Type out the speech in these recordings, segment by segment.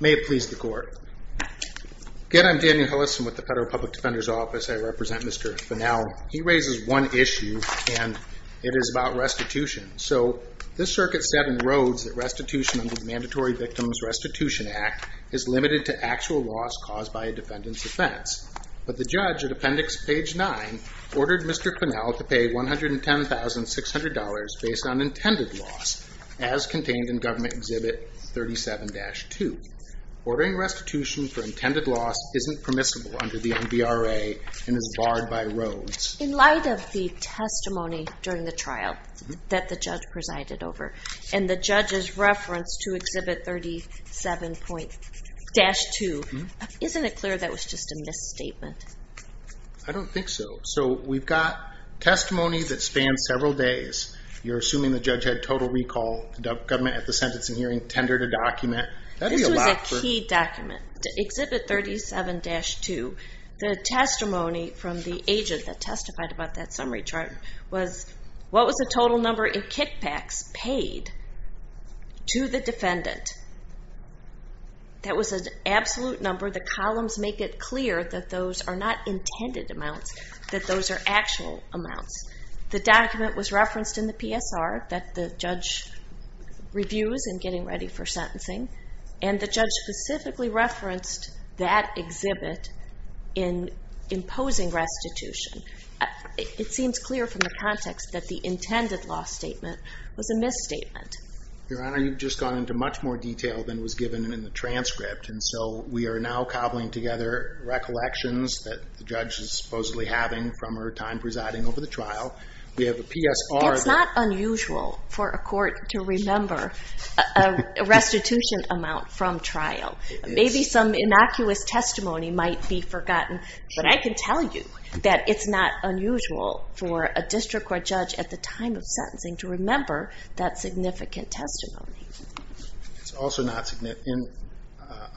May it please the court. Again I'm Daniel Hillison with the Federal Public Defender's Office. I represent Mr. Fennell. He raises one issue. And it is about restitution. So this circuit said in Rhodes that restitution under the Mandatory Victims Restitution Act is limited to actual loss caused by a defendant's offense. But the judge at appendix page 9 ordered Mr. Fennell to pay $110,600 based on intended loss as contained in Government Exhibit 37-2. Ordering restitution for intended loss isn't permissible under the NBRA and is barred by Rhodes. In light of the testimony during the trial that the judge presided over and the judge's reference to Exhibit 37-2, isn't it clear that was just a misstatement? I don't think so. So we've got testimony that spans several days. You're assuming the judge had total recall. The government at the sentencing hearing tendered a document. This was a key document, Exhibit 37-2. The testimony from the agent that testified about that summary chart was what was the total number in kickbacks paid to the defendant? That was an absolute number. The columns make it clear that those are not intended amounts, that those are actual amounts. The document was referenced in the PSR that the judge reviews in getting ready for sentencing, and the judge specifically referenced that exhibit in imposing restitution. It seems clear from the context that the intended loss statement was a misstatement. Your Honor, you've just gone into much more detail than was given in the transcript, and so we are now cobbling together recollections that the judge is supposedly having from her time presiding over the trial. It's not unusual for a court to remember a restitution amount from trial. Maybe some innocuous testimony might be forgotten, but I can tell you that it's not unusual for a district court judge at the time of sentencing to remember that significant testimony. It's also not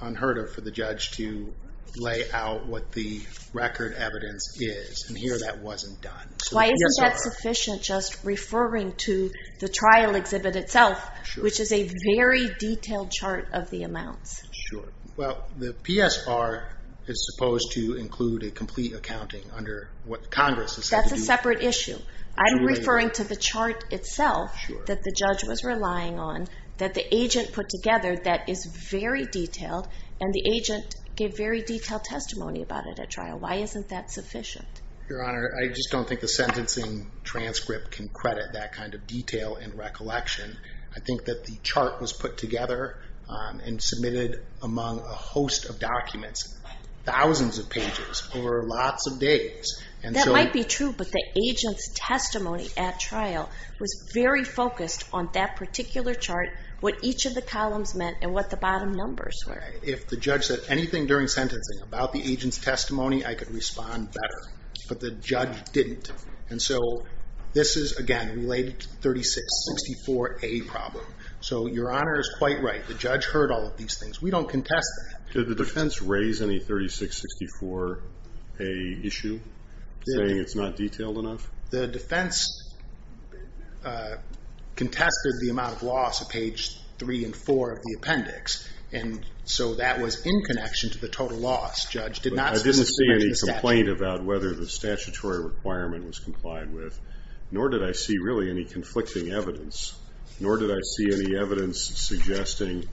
unheard of for the judge to lay out what the record evidence is, and here that wasn't done. Why isn't that sufficient just referring to the trial exhibit itself, which is a very detailed chart of the amounts? Sure. Well, the PSR is supposed to include a complete accounting under what Congress is supposed to do. That's a separate issue. I'm referring to the chart itself that the judge was relying on that the agent put together that is very detailed, and the agent gave very detailed testimony about it at trial. Why isn't that sufficient? Your Honor, I just don't think the sentencing transcript can credit that kind of detail and recollection. I think that the chart was put together and submitted among a host of documents, thousands of pages over lots of days. That might be true, but the agent's testimony at trial was very focused on that particular chart, what each of the columns meant, and what the bottom numbers were. If the judge said anything during sentencing about the agent's testimony, I could respond better. But the judge didn't, and so this is, again, related to the 3664A problem. So Your Honor is quite right. The judge heard all of these things. We don't contest that. Did the defense raise any 3664A issue, saying it's not detailed enough? The defense contested the amount of loss of page 3 and 4 of the appendix, and so that was in connection to the total loss. But I didn't see any complaint about whether the statutory requirement was complied with, nor did I see really any conflicting evidence, nor did I see any evidence suggesting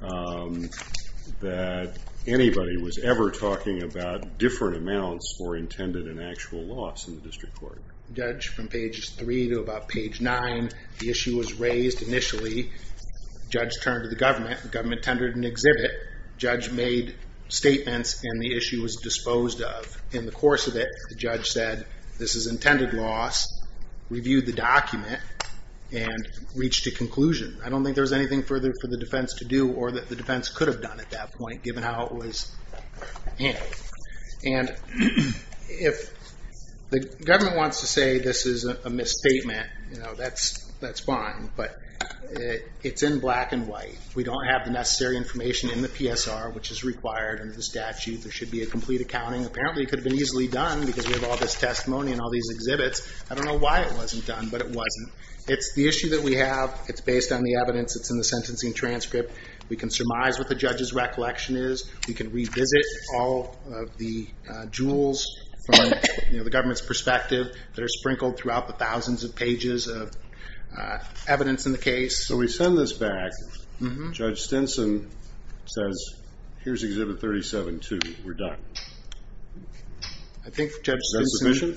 that anybody was ever talking about different amounts for intended and actual loss in the district court. Judge, from page 3 to about page 9, the issue was raised initially. The judge turned to the government. The government tendered an exhibit. The judge made statements, and the issue was disposed of. In the course of it, the judge said, this is intended loss, reviewed the document, and reached a conclusion. I don't think there was anything further for the defense to do or that the defense could have done at that point, given how it was handled. And if the government wants to say this is a misstatement, that's fine, but it's in black and white. We don't have the necessary information in the PSR, which is required under the statute. There should be a complete accounting. Apparently, it could have been easily done, because we have all this testimony and all these exhibits. I don't know why it wasn't done, but it wasn't. It's the issue that we have. It's based on the evidence that's in the sentencing transcript. We can surmise what the judge's recollection is. We can revisit all of the jewels from the government's perspective that are sprinkled throughout the thousands of pages of evidence in the case. So we send this back. Judge Stinson says, here's Exhibit 37-2. We're done. I think Judge Stinson,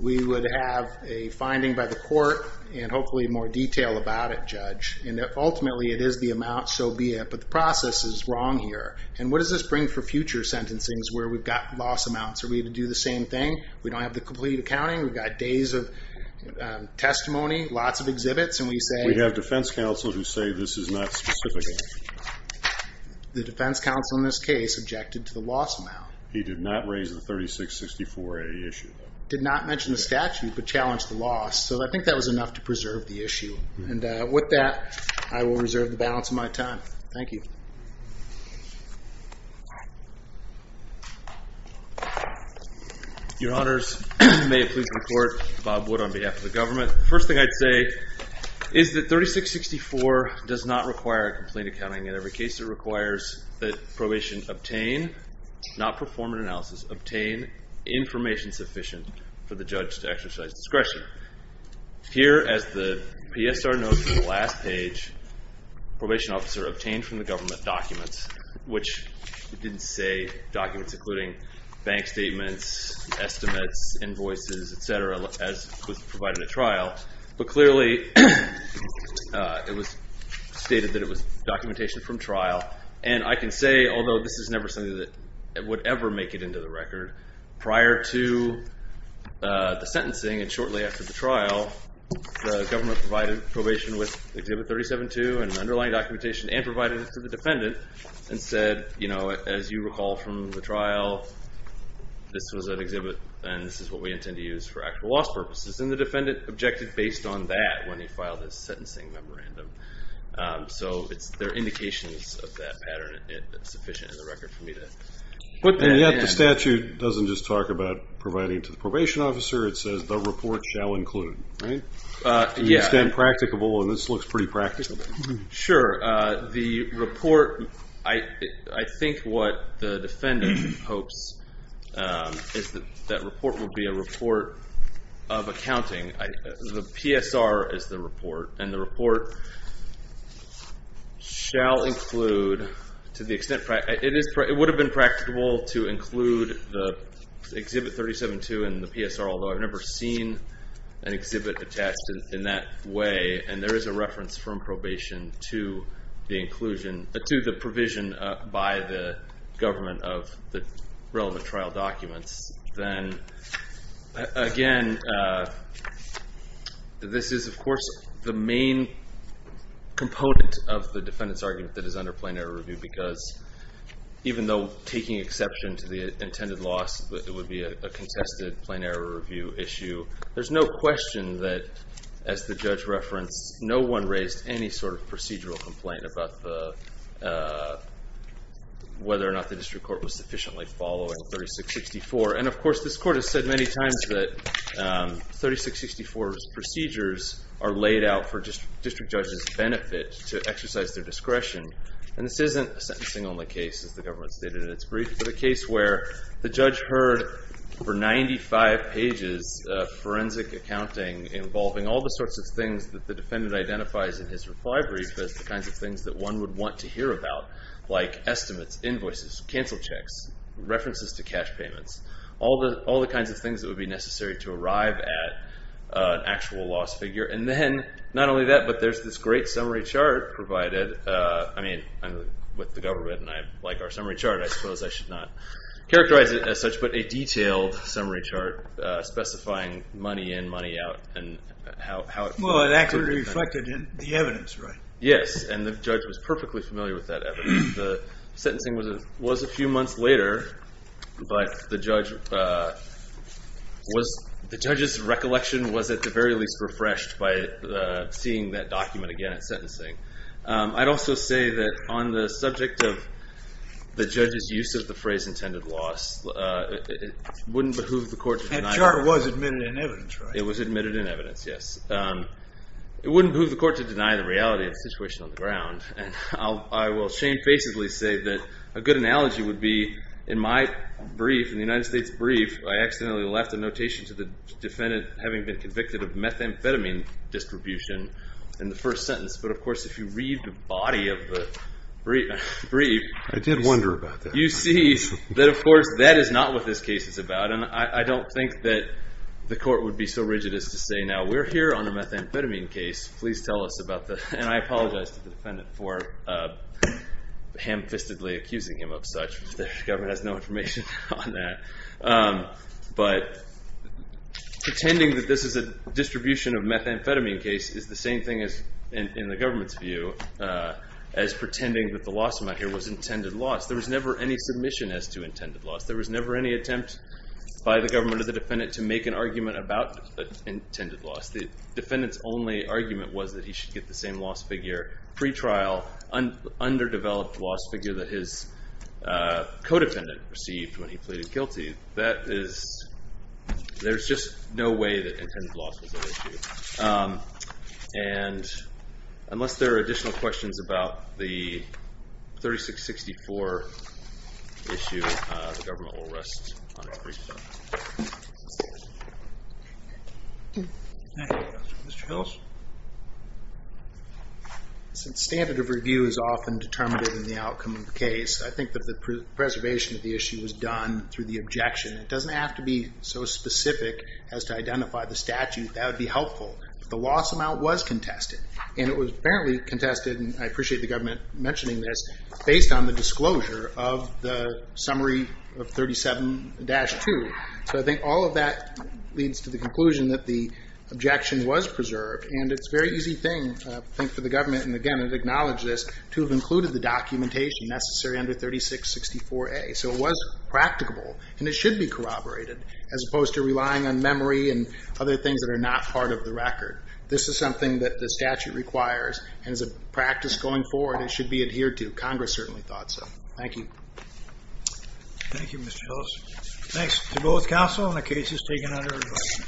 we would have a finding by the court and hopefully more detail about it, Judge. Ultimately, it is the amount, so be it. But the process is wrong here. And what does this bring for future sentencings where we've got loss amounts? Are we to do the same thing? We don't have the complete accounting. We've got days of testimony, lots of exhibits, and we say- We have defense counsel who say this is not specific. The defense counsel in this case objected to the loss amount. He did not raise the 3664A issue. Did not mention the statute, but challenged the loss. So I think that was enough to preserve the issue. And with that, I will reserve the balance of my time. Thank you. Your Honors, may it please the Court, Bob Wood on behalf of the government. The first thing I'd say is that 3664 does not require a complete accounting in every case. It requires that probation obtain, not perform an analysis, obtain information sufficient for the judge to exercise discretion. Here, as the PSR notes on the last page, probation officer obtained from the government documents, which didn't say documents including bank statements, estimates, invoices, etc., as was provided at trial. But clearly, it was stated that it was documentation from trial. And I can say, although this is never something that would ever make it into the record, prior to the sentencing and shortly after the trial, the government provided probation with Exhibit 37-2 and the underlying documentation and provided it to the defendant and said, you know, as you recall from the trial, this was an exhibit and this is what we intend to use for actual loss purposes. And the defendant objected based on that when he filed his sentencing memorandum. So there are indications of that pattern sufficient in the record for me to put that in. And yet the statute doesn't just talk about providing to the probation officer. It says the report shall include, right? Yeah. In the extent practicable, and this looks pretty practicable. Sure. The report, I think what the defendant hopes is that that report will be a report of accounting. The PSR is the report, and the report shall include, to the extent practicable. To include the Exhibit 37-2 and the PSR, although I've never seen an exhibit attached in that way, and there is a reference from probation to the inclusion, to the provision by the government of the relevant trial documents. Then, again, this is, of course, the main component of the defendant's argument that is under plain error review because even though taking exception to the intended loss, it would be a contested plain error review issue. There's no question that, as the judge referenced, no one raised any sort of procedural complaint about whether or not the district court was sufficiently following 3664. And, of course, this court has said many times that 3664's procedures are laid out for district judges' benefit to exercise their discretion. And this isn't a sentencing-only case, as the government stated in its brief, but a case where the judge heard over 95 pages of forensic accounting involving all the sorts of things that the defendant identifies in his reply brief as the kinds of things that one would want to hear about, like estimates, invoices, cancel checks, references to cash payments, all the kinds of things that would be necessary to arrive at an actual loss figure. And then, not only that, but there's this great summary chart provided. I mean, I'm with the government, and I like our summary chart. I suppose I should not characterize it as such, but a detailed summary chart specifying money in, money out, and how it... Well, it actually reflected the evidence, right? Yes, and the judge was perfectly familiar with that evidence. The sentencing was a few months later, but the judge's recollection was at the very least refreshed by seeing that document again at sentencing. I'd also say that on the subject of the judge's use of the phrase intended loss, it wouldn't behoove the court to deny... That chart was admitted in evidence, right? It was admitted in evidence, yes. It wouldn't behoove the court to deny the reality of the situation on the ground, and I will shamefacedly say that a good analogy would be in my brief, in the United States brief, I accidentally left a notation to the defendant having been convicted of methamphetamine distribution in the first sentence. But, of course, if you read the body of the brief... I did wonder about that. You see that, of course, that is not what this case is about, and I don't think that the court would be so rigid as to say, now we're here on a methamphetamine case, please tell us about the... And I apologize to the defendant for ham-fistedly accusing him of such. The government has no information on that. But pretending that this is a distribution of methamphetamine case is the same thing, in the government's view, as pretending that the loss amount here was intended loss. There was never any submission as to intended loss. There was never any attempt by the government or the defendant to make an argument about intended loss. The defendant's only argument was that he should get the same loss figure pre-trial, underdeveloped loss figure that his co-defendant received when he pleaded guilty. That is... There's just no way that intended loss was an issue. And unless there are additional questions about the 3664 issue, the government will rest on its feet. Mr. Hills? Since standard of review is often determined in the outcome of the case, I think that the preservation of the issue was done through the objection. It doesn't have to be so specific as to identify the statute. That would be helpful. But the loss amount was contested. And it was apparently contested, and I appreciate the government mentioning this, based on the disclosure of the summary of 37-2. So I think all of that leads to the conclusion that the objection was preserved. And it's a very easy thing, I think, for the government, and again, I'd acknowledge this, to have included the documentation necessary under 3664A. So it was practicable, and it should be corroborated, as opposed to relying on memory and other things that are not part of the record. This is something that the statute requires, and as a practice going forward, it should be adhered to. Congress certainly thought so. Thank you. Thank you, Mr. Hills. Thanks to both counsel, and the case is taken under review.